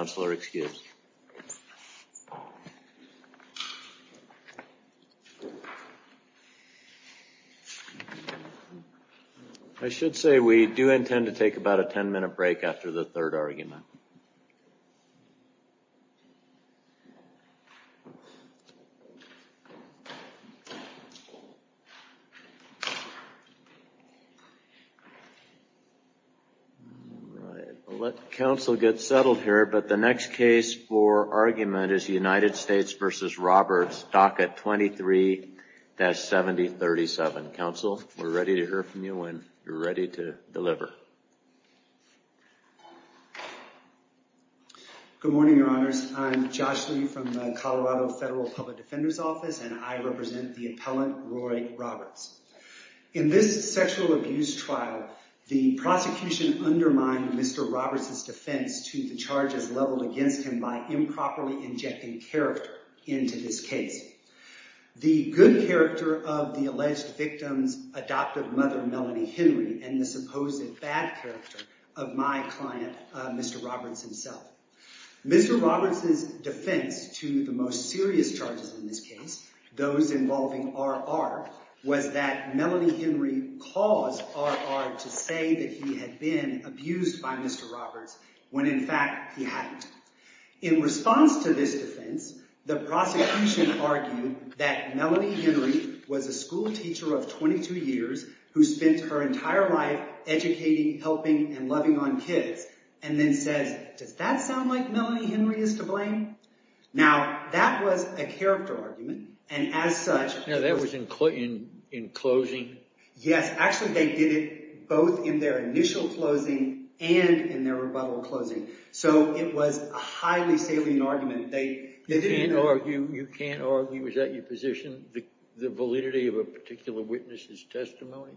I should say we do intend to take about a ten minute break after the third argument. We'll let counsel get settled here but the next case for argument is United States v. Good morning, your honors. I'm Josh Lee from the Colorado Federal Public Defender's Office and I represent the appellant Roy Roberts. In this sexual abuse trial, the prosecution undermined Mr. Roberts' defense to the charges leveled against him by improperly injecting character into this case. The good character of the alleged victim's adoptive mother, Melanie Henry, and the supposed bad character of my client Mr. Roberts himself. Mr. Roberts' defense to the most serious charges in this case, those involving R.R., was that Melanie Henry caused R.R. to say that he had been abused by Mr. Roberts when in fact he hadn't. In response to this defense, the prosecution argued that Melanie Henry was a school teacher of 22 years who spent her entire life educating, helping, and loving on kids, and then says, does that sound like Melanie Henry is to blame? Now that was a character argument and as such... Now that was in closing? Yes, actually they did it both in their initial closing and in their rebuttal closing. So it was a highly salient argument. You can't argue, was that your position, the validity of a particular witness's testimony?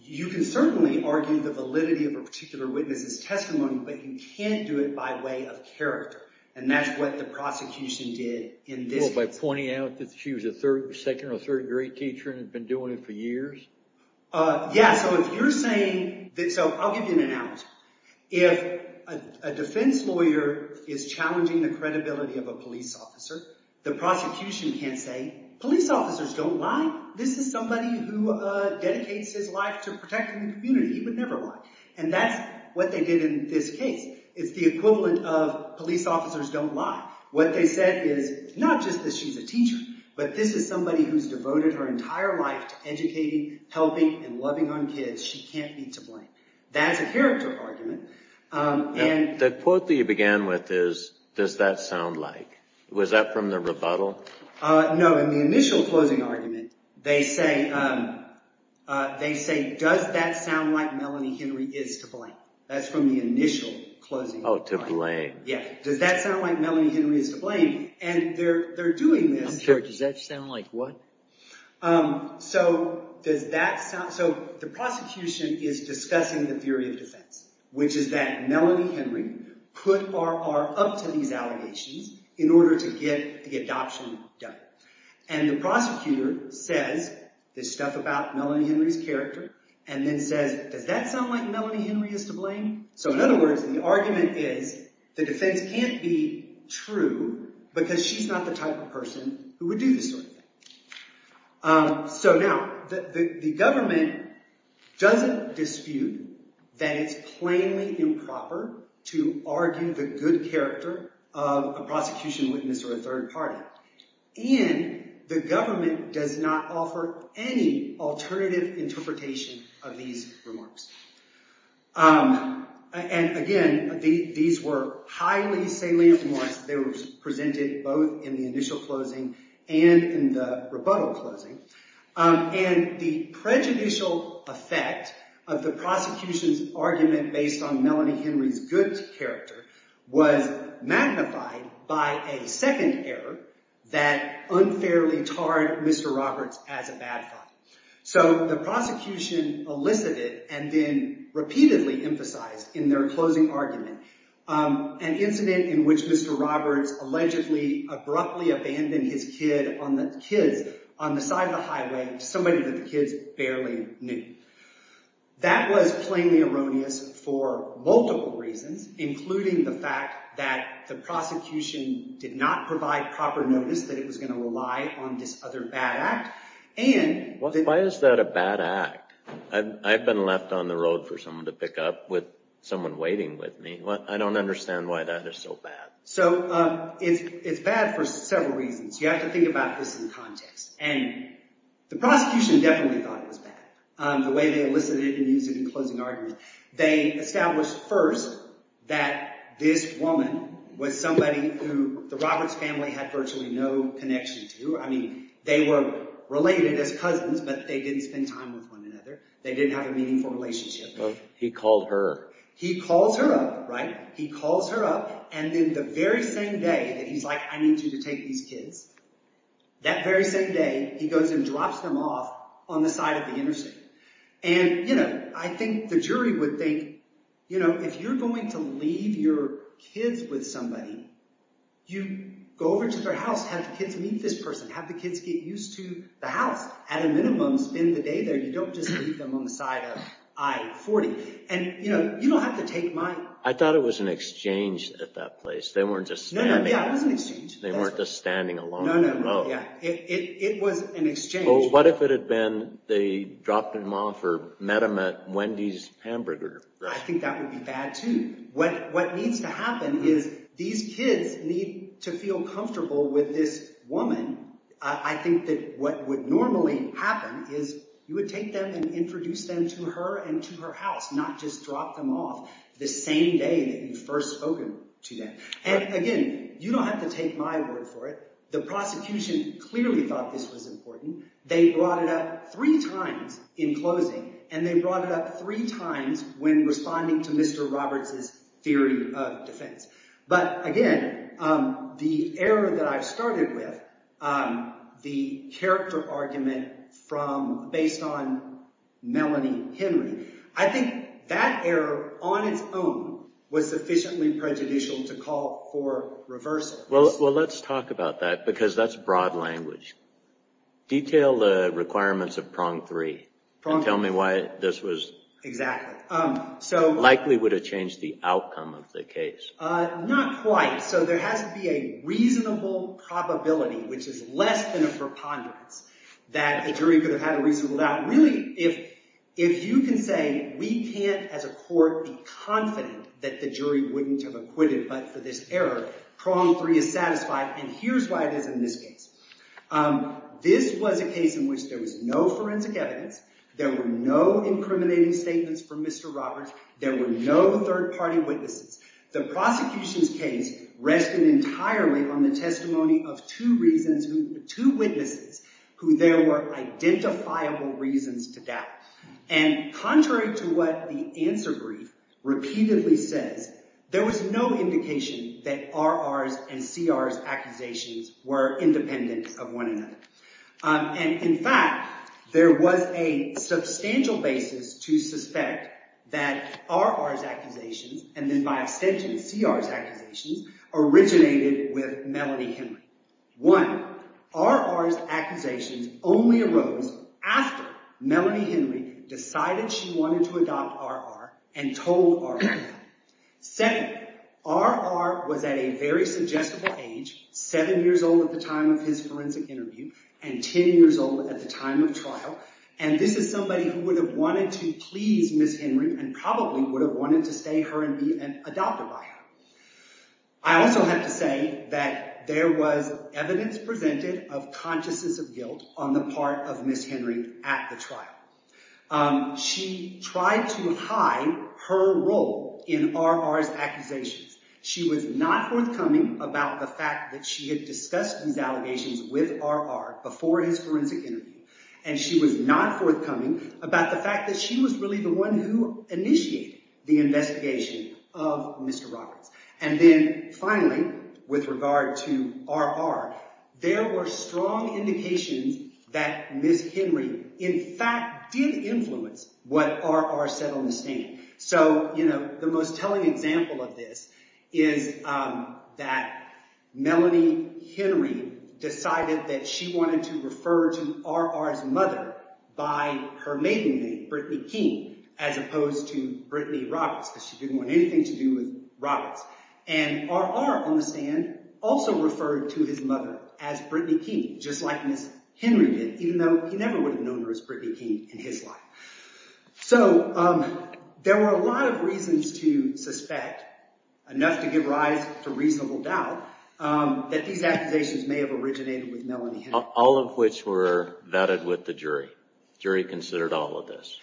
You can certainly argue the validity of a particular witness's testimony, but you can't do it by way of character, and that's what the prosecution did in this case. By pointing out that she was a second or third grade teacher and had been doing it for years? Yeah, so if you're arguing the credibility of a police officer, the prosecution can't say, police officers don't lie. This is somebody who dedicates his life to protecting the community. He would never lie, and that's what they did in this case. It's the equivalent of police officers don't lie. What they said is, not just that she's a teacher, but this is somebody who's devoted her entire life to educating, helping, and loving on kids. She can't be to blame. That's a character argument. The quote that you began with is, does that sound like? Was that from the rebuttal? No, in the initial closing argument, they say, does that sound like Melanie Henry is to blame? That's from the initial closing. Oh, to blame. Yeah, does that sound like Melanie Henry is to blame? And they're doing this. I'm sorry, does that sound like what? So does that sound, so the prosecution is discussing the theory of defense, which is that Melanie Henry put R.R. up to these allegations in order to get the adoption done. And the prosecutor says this stuff about Melanie Henry's character, and then says, does that sound like Melanie Henry is to blame? So in other words, the argument is, the defense can't be true because she's not the type of person who would do this sort of thing. So now, the government doesn't dispute that it's plainly improper to argue the good character of a prosecution witness or a third party. And the government does not offer any alternative interpretation of these remarks. And again, these were highly salient remarks. They were presented both in the initial closing and in the rebuttal closing. And the prejudicial effect of the prosecution's argument based on Melanie Henry's good character was magnified by a second error that unfairly tarred Mr. Roberts as a bad fight. So the prosecution elicited and then repeatedly emphasized in their closing argument an incident in which Mr. Roberts allegedly abruptly abandoned his kids on the side of the highway to somebody that the kids barely knew. That was plainly erroneous for multiple reasons, including the fact that the prosecution did not provide proper notice that it was going to rely on this other bad act. Why is that a bad act? I've been left on the road for someone to pick up with someone waiting with me. I don't understand why that is so bad. So it's bad for several reasons. You have to think about this in context. And the prosecution definitely thought it was bad, the way they elicited it and used it in closing arguments. They established first that this woman was somebody who the Roberts family had virtually no connection to. I mean, they were related as cousins, but they didn't spend time with one another. They didn't have a meaningful relationship. He called her. He calls her up, right? He calls her up. And then the very same day that he's like, I need you to take these kids. That very same day, he goes and drops them off on the side of the interstate. And I think the jury would think, if you're going to leave your kids with somebody, you go over to their house, have the kids meet this person, have the kids get used to the house. At a minimum, spend the day there. You don't just leave them on the side of I-40. And you don't have to take my... I thought it was an exchange at that place. They weren't just standing... No, no, yeah, it was an exchange. They weren't just standing alone. No, no, no, yeah. It was an exchange. Well, what if it had been they dropped them off or met them at Wendy's Hamburger? I think that would be bad, too. What needs to happen is these kids need to feel comfortable with this woman. I think that what would normally happen is you would take them and introduce them to her and to her house, not just drop them off the same day that you first spoke to them. And again, you don't have to take my word for it. The prosecution clearly thought this was important. They brought it up three times in closing, and they brought it up three times when responding to Mr. Roberts' theory of defense. But again, the error that I've started with, the character argument based on Melanie Henry, I think that error on its own was sufficiently prejudicial to call for reversals. Well, let's talk about that because that's broad language. Detail the requirements of prong three and tell me why this was... Exactly. Likely would have changed the outcome of the case. Not quite. So there has to be a reasonable probability, which is less than a preponderance, that a jury could have had a reasonable doubt. Really, if you can say we can't as a court be confident that the jury wouldn't have acquitted but for this error, prong three is satisfied. And here's why it is in this case. This was a case in which there was no forensic evidence. There were no incriminating statements from Mr. Roberts. There were no third party witnesses. The prosecution's case rested entirely on the testimony of two witnesses who there were identifiable reasons to doubt. And contrary to what the answer brief repeatedly says, there was no indication that R.R.'s and C.R.'s accusations were independent of one another. And in fact, there was a substantial basis to suspect that R.R.'s accusations, and then by extension C.R.'s accusations, originated with Melody Henry. One, R.R.'s accusations only arose after Melody Henry decided she wanted to adopt R.R. and told R.R. that. Second, R.R. was at a very suggestible age, seven years old at the time of his forensic interview, and 10 years old at the time of trial. And this is somebody who would have wanted to please Ms. Henry and probably would have wanted to stay her and be adopted by her. I also have to say that there was evidence presented of consciousness of guilt on the R.R.'s accusations. She was not forthcoming about the fact that she had discussed these allegations with R.R. before his forensic interview, and she was not forthcoming about the fact that she was really the one who initiated the investigation of Mr. Roberts. And then finally, with regard to R.R., there were strong indications that Ms. Henry, in fact, did influence what R.R. said on the stand. So, you know, the most telling example of this is that Melody Henry decided that she wanted to refer to R.R.'s mother by her mating name, Brittany King, as opposed to Brittany Roberts, because she didn't want anything to do with Roberts. And R.R. on the stand also referred to his mother as Brittany King, just like Ms. Henry did, even though he never would have known her as Brittany King in his life. So there were a lot of reasons to suspect, enough to give rise to reasonable doubt, that these accusations may have originated with Melody Henry. All of which were vetted with the jury. Jury considered all of this.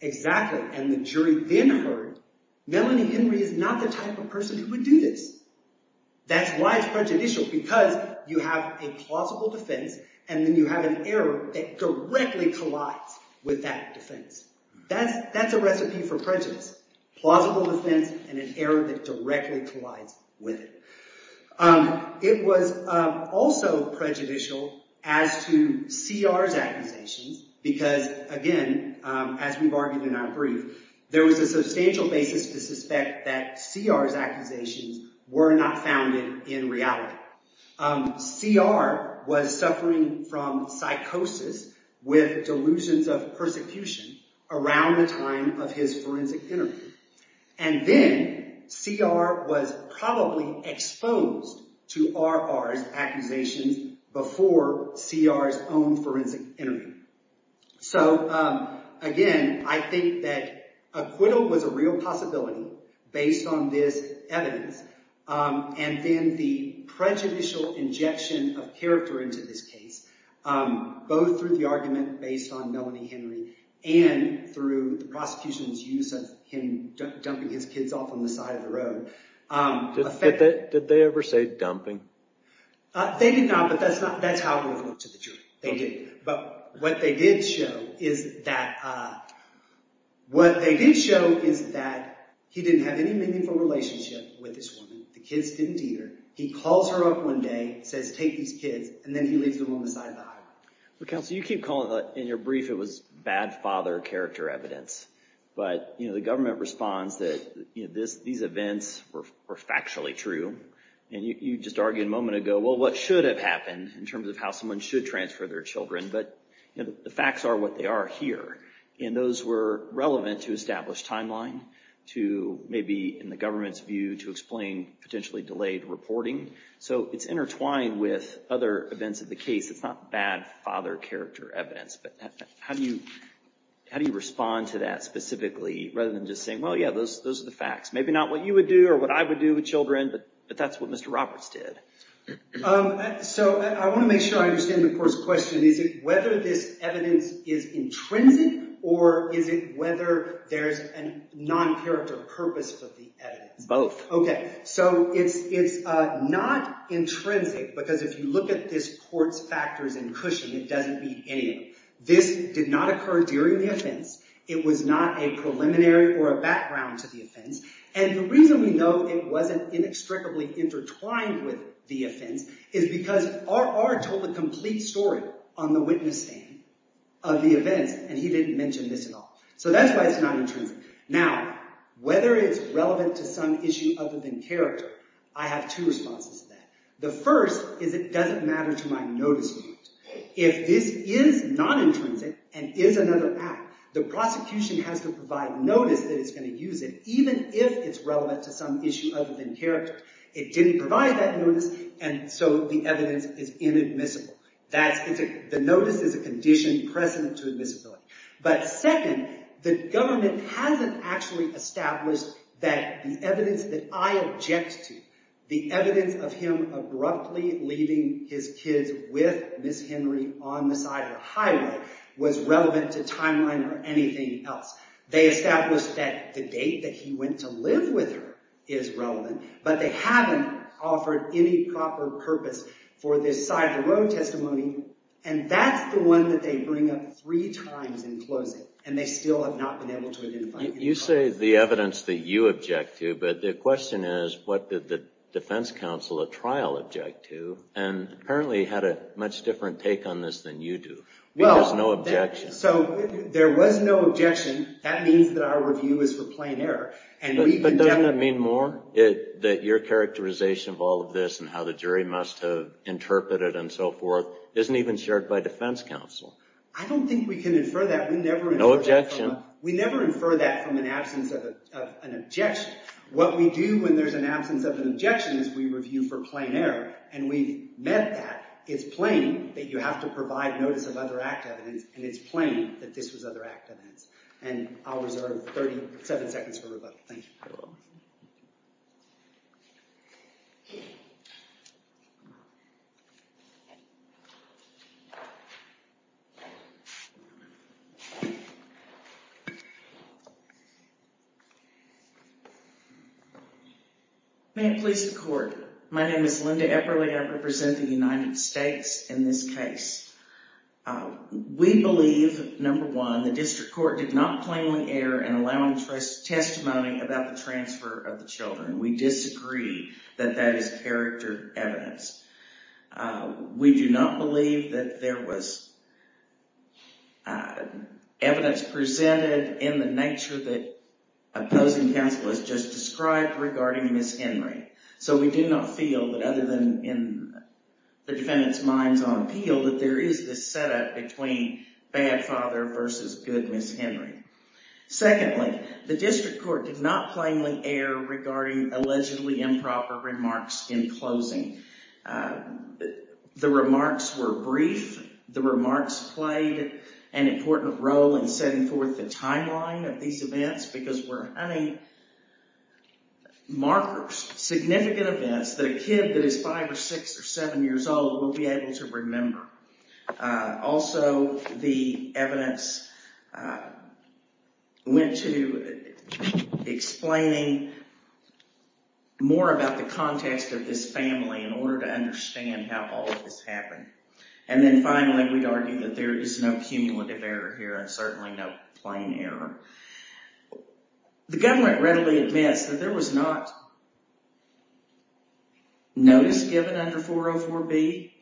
Exactly. And the jury then heard, Melody Henry is not the type of person who would do this. That's why it's prejudicial, because you have a plausible defense and then you have an error that directly collides with that defense. That's a recipe for prejudice. Plausible defense and an error that directly collides with it. It was also prejudicial as to C.R.'s accusations, because again, as we've argued in our brief, there was a substantial basis to suspect that C.R.'s accusations were not founded in reality. C.R. was suffering from psychosis with delusions of persecution around the time of his forensic interview. And then C.R. was probably exposed to R.R.'s accusations before C.R.'s own forensic interview. So again, I think that acquittal was a real possibility based on this evidence. And then the prejudicial injection of character into this case, both through the argument based on Melody Henry and through the prosecution's use of him dumping his kids off on the side of the road. Did they ever say dumping? They did not, but that's how it would have looked to the jury. They didn't. But what they did show is that he didn't have any meaningful relationship with this woman. The kids didn't either. He calls her up one day, says, take these kids, and then he leaves them on the side of the highway. Well, counsel, you keep calling it, in your brief, it was bad father character evidence. But the government responds that these events were factually true. And you just argued a moment ago, well, what should have happened in terms of how someone should transfer their children? But the facts are what they are here. And those were relevant to establish timeline, to maybe, in the government's view, to explain potentially delayed reporting. So it's intertwined with other events of the case. It's not bad father character evidence. But how do you respond to that specifically, rather than just saying, well, yeah, those are the facts. Maybe not what you would do or what I would do with children, but that's what Mr. Roberts did. So I want to make sure I understand the court's question. Is it whether this evidence is intrinsic, or is it whether there's a non-character purpose for the evidence? Both. Okay. So it's not intrinsic, because if you look at this court's factors and cushion, it doesn't meet any of them. This did not occur during the offense. It was not a preliminary or a background to the offense. And the reason we know it wasn't inextricably intertwined with the offense is because R.R. told the complete story on the witness stand of the events, and he didn't mention this at all. So that's why it's not intrinsic. Now, whether it's relevant to some issue other than character, I have two responses to that. The first is it doesn't matter to my notice board. If this is non-intrinsic and is another act, the prosecution has to provide notice that it's going to use it, even if it's relevant to some issue. It didn't provide that notice, and so the evidence is inadmissible. The notice is a conditioned precedent to admissibility. But second, the government hasn't actually established that the evidence that I object to, the evidence of him abruptly leaving his kids with Miss Henry on the side of the highway, was relevant to timeline or anything else. They established that the date that he went to live with her is relevant, but they haven't offered any proper purpose for this side-of-the-road testimony. And that's the one that they bring up three times in closing, and they still have not been able to identify it. You say the evidence that you object to, but the question is, what did the defense counsel at trial object to, and apparently had a much different take on this than you do. Well, there's no objection. So there was no objection. That means that our review is for plain error. But doesn't that mean more? That your characterization of all of this and how the jury must have interpreted it and so forth isn't even shared by defense counsel. I don't think we can infer that. No objection. We never infer that from an absence of an objection. What we do when there's an absence of an objection is we review for plain error, and we've met that. It's plain that you have to provide notice of other act evidence, and it's plain that this was other act evidence. And I'll reserve 37 seconds for rebuttal. Thank you. May it please the Court. My name is Linda Epperle, and I represent the United States in this case. We believe, number one, the district court did not plainly err in allowing testimony about the transfer of the children. We disagree that that is character evidence. We do not believe that there was evidence presented in the nature that opposing counsel has just described regarding Ms. Henry. So we do not feel that other than in the defendant's minds on appeal that there is this setup between bad father versus good Ms. Henry. Secondly, the district court did not plainly err regarding allegedly improper remarks in closing. The remarks were brief. The remarks played an important role in setting forth the timeline of these events because we're hunting markers, significant events, that a kid that is five or six or seven years old will be able to remember. Also, the evidence went to explaining more about the context of this family in order to understand how all of this happened. And then finally, we'd argue that there is no cumulative error here and certainly no plain error. The government readily admits that there was not notice given under 404B.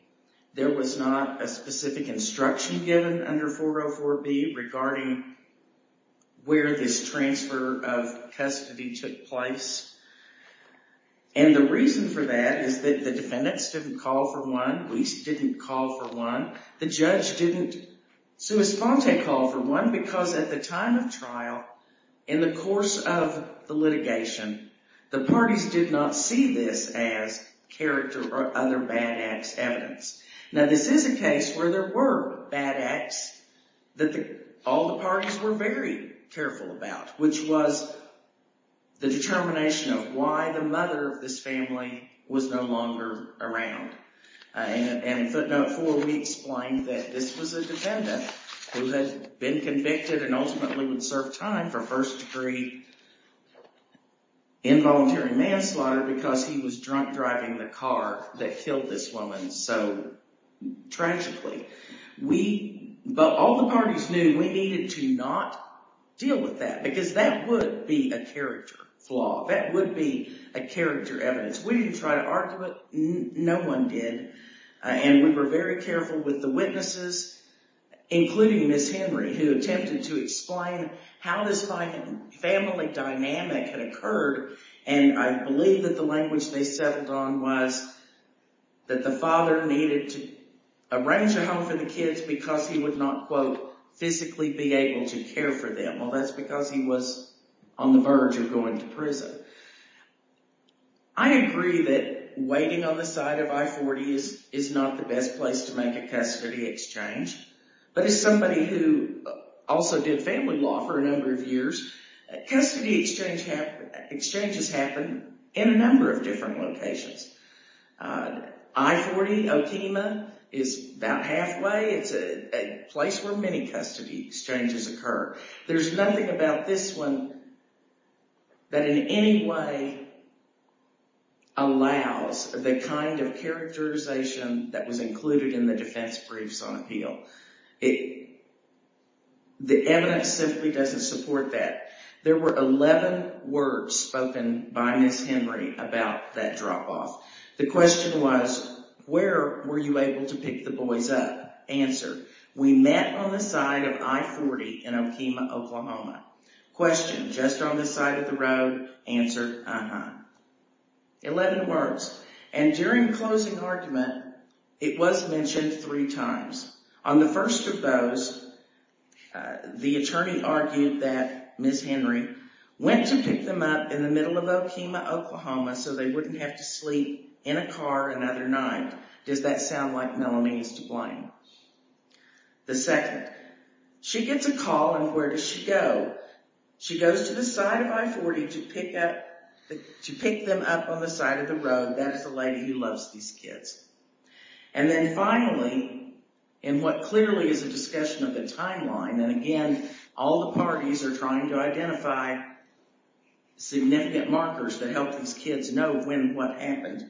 There was not a specific instruction given under 404B regarding where this transfer of custody took place. And the reason for that is that the defendants didn't call for one. The judge didn't call for one because at the time of trial, in the course of the litigation, the parties did not see this as character or other bad acts evidence. Now, this is a case where there were bad acts that all the parties were very careful about, which was the determination of why the mother of this family was no longer around. And in footnote four, we explained that this was a defendant who had been convicted and ultimately would serve time for first degree involuntary manslaughter because he was drunk driving the car that killed this woman so tragically. But all the parties knew we needed to not deal with that because that would be a character flaw. That would be a character evidence. We didn't try to argue it. No one did. And we were very careful with the witnesses, including Ms. Henry, who attempted to explain how this family dynamic had occurred. And I believe that the language they settled on was that the father needed to arrange a home for the kids because he would not, quote, be able to care for them. Well, that's because he was on the verge of going to prison. I agree that waiting on the side of I-40 is not the best place to make a custody exchange. But as somebody who also did family law for a number of years, custody exchanges happen in a number of different locations. I-40, Okema, is about halfway. It's a place where many custody exchanges occur. There's nothing about this one that in any way allows the kind of characterization that was included in the defense briefs on appeal. The evidence simply doesn't support that. There were 11 words spoken by Ms. Henry about that drop-off. The question was, where were you able to pick the boys up? Answer, we met on the side of I-40 in Okema, Oklahoma. Question, just on the side of the road. Answer, uh-huh. 11 words. And during closing argument, it was mentioned three times. On the first of those, the attorney argued that Ms. Henry went to pick them up in the middle of Okema, Oklahoma so they wouldn't have to sleep in a car another night. Does that sound like Melanie is to blame? The second, she gets a call and where does she go? She goes to the side of I-40 to pick them up on the side of the road. That is the lady who loves these kids. And then finally, in what clearly is a discussion of the timeline, and again, all the parties are trying to identify significant markers that help these kids know when what happened,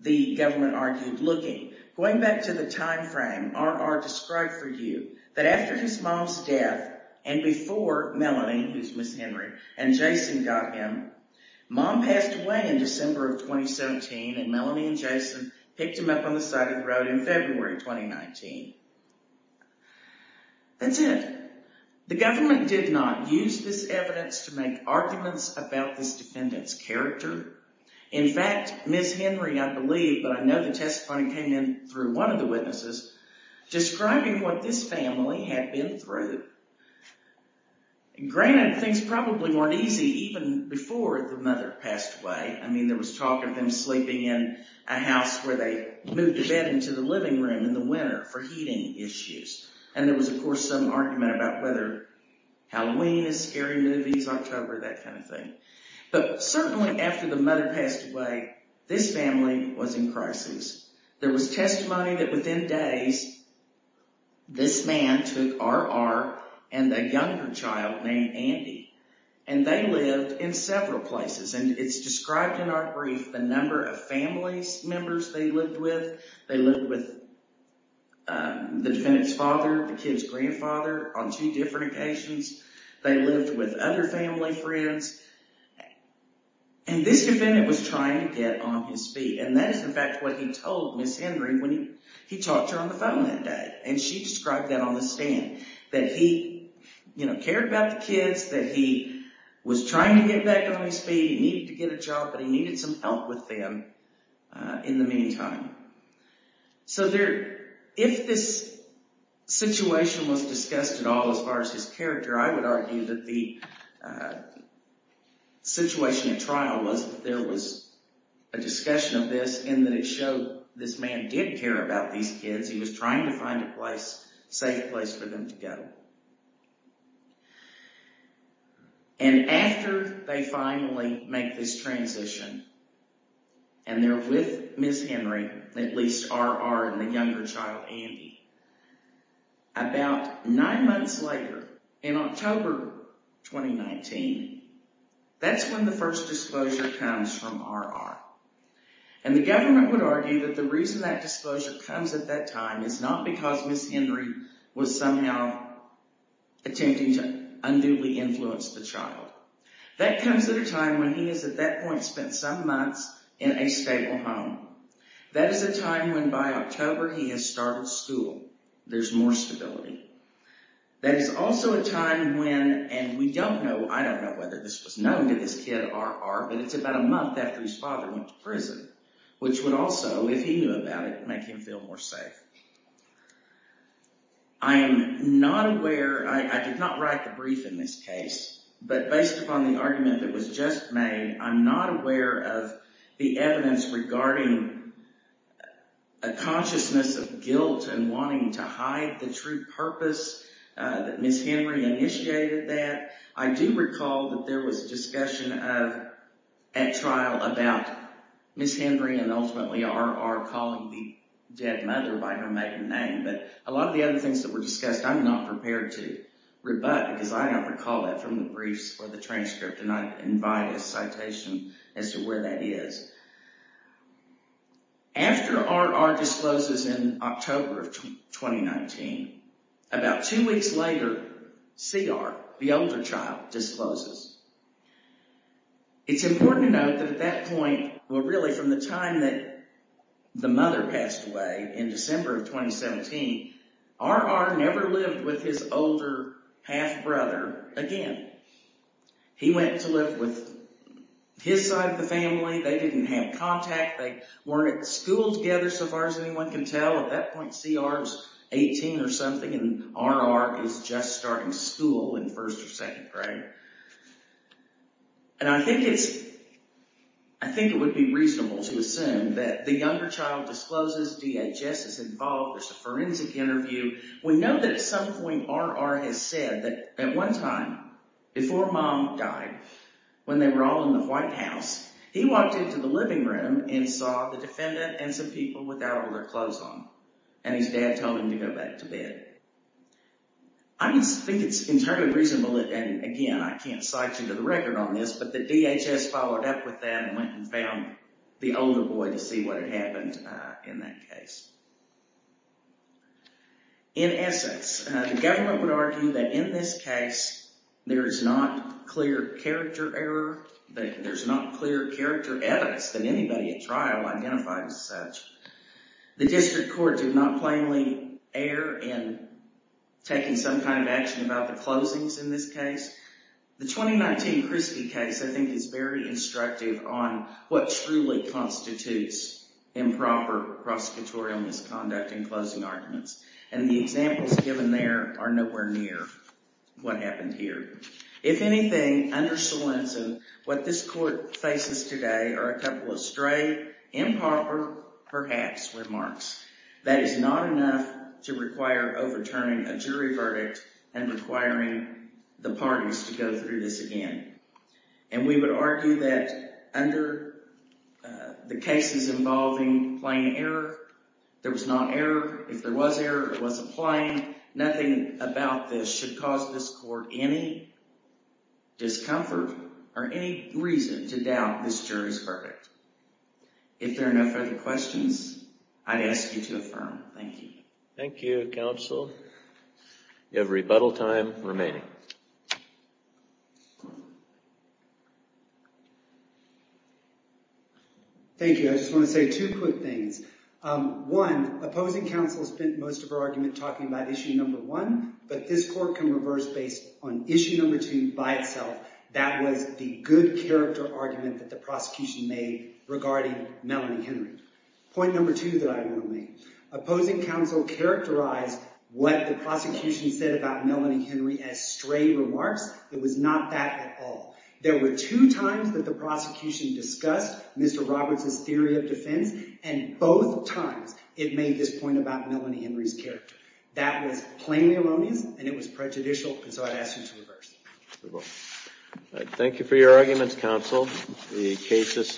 the government argued looking. Going back to the time frame, R.R. described for you that after his mom's death and before Melanie, who's Ms. Henry, and Jason got him, mom passed away in December of 2017 and Melanie and Jason picked him up on the side of the road in February 2019. That's it. The government did not use this evidence to make arguments about this defendant's character. In fact, Ms. Henry, I believe, but I know the testimony came in through one of the witnesses, describing what this family had been through. Granted, things probably weren't easy even before the mother passed away. I mean, there was talk of them sleeping in a house where they moved the bed into the living room in the winter for heating issues. And there was, of course, some argument about whether Halloween is scary movies, October, that kind of thing. But certainly after the mother passed away, this family was in crisis. There was testimony that within days, this man took R.R. and a younger child named Andy. And they lived in several places. And it's described in our brief the number of family members they lived with. They lived with the defendant's father, the kid's grandfather on two different occasions. They lived with other family friends. And this defendant was trying to get on his feet. And that is, in fact, what he told Ms. Henry when he talked to her on the phone that day. And she described that on the stand, that he, you know, cared about the kids, that he was trying to get back on his feet. He needed to get a job, but he needed some help with them in the meantime. So if this situation was discussed at all as far as his character, I would argue that the situation at trial was that there was a discussion of this and that it showed this man did care about these kids. He was trying to find a place, safe place for them to go. And after they finally make this transition, and they're with Ms. Henry, at least R.R. and the younger child, Andy, about nine months later, in October 2019, that's when the first disclosure comes from R.R. And the government would argue that the reason that disclosure comes at that time is not because Ms. Henry was somehow attempting to unduly influence the child. That comes at a time when he has, at that point, spent some months in a stable home. That is a time when by October he has started school. There's more stability. That is also a time when, and we don't know, I don't know whether this was known to this kid R.R., but it's about a month after his father went to prison, which would also, if he knew about it, make him feel more safe. I am not aware, I did not write the brief in this case, but based upon the argument that was just made, I'm not aware of the evidence regarding a consciousness of guilt and wanting to hide the true purpose that Ms. Henry initiated that. I do recall that there was discussion at trial about Ms. Henry and ultimately R.R. calling the dead mother by her maiden name, but a lot of the other things that were discussed, I'm not prepared to rebut because I don't recall that from the briefs or the transcript, and I invite a citation as to where that is. After R.R. discloses in October of 2019, about two weeks later, C.R., the older child, discloses. It's important to note that at that point, well really from the time that the mother passed away in December of 2017, R.R. never lived with his older half-brother again. He went to live with his side of the family. They didn't have contact. They weren't at school together so far as anyone can tell. At that point, C.R. was 18 or something and R.R. is just starting school in first or second grade, and I think it would be reasonable to assume that the younger child discloses, DHS is involved, there's a forensic interview. We know that at some point R.R. has said that at one time before mom died, when they were all in the White House, he walked into the living room and saw the defendant and some people without all their clothes on, and his dad told him to go back to bed. I just think it's entirely reasonable, and again I can't cite you to the record on this, but the DHS followed up with that and went and found the older boy to see what had happened in that case. In essence, the government would argue that in this case there is not clear character error, that there's not clear character evidence that anybody at trial identified as such. The district court did not plainly err in taking some kind of action about the closings in this prosecutorial misconduct in closing arguments, and the examples given there are nowhere near what happened here. If anything, under Salenzo, what this court faces today are a couple of stray, improper, perhaps, remarks. That is not enough to require overturning a jury verdict and requiring the parties to go through this again, and we would argue that under the cases involving plain error, there was not error. If there was error, it wasn't plain. Nothing about this should cause this court any discomfort or any reason to doubt this jury's verdict. If there are no further questions, I'd ask you to affirm. Thank you. Thank you, counsel. You have rebuttal time remaining. Thank you. I just want to say two quick things. One, opposing counsel spent most of her argument talking about issue number one, but this court can reverse based on issue number two by itself. That was the good character argument that the prosecution made regarding Melanie Henry. Point number two that I want to make, opposing counsel characterized what the prosecution said about Melanie Henry as stray remarks. It was not that at all. There were two times that the prosecution discussed Mr. Roberts' theory of defense, and both times it made this point about Melanie Henry's character. That was plain erroneous, and it was prejudicial, and so I'd ask you to reverse it. Thank you for your arguments, counsel. The case is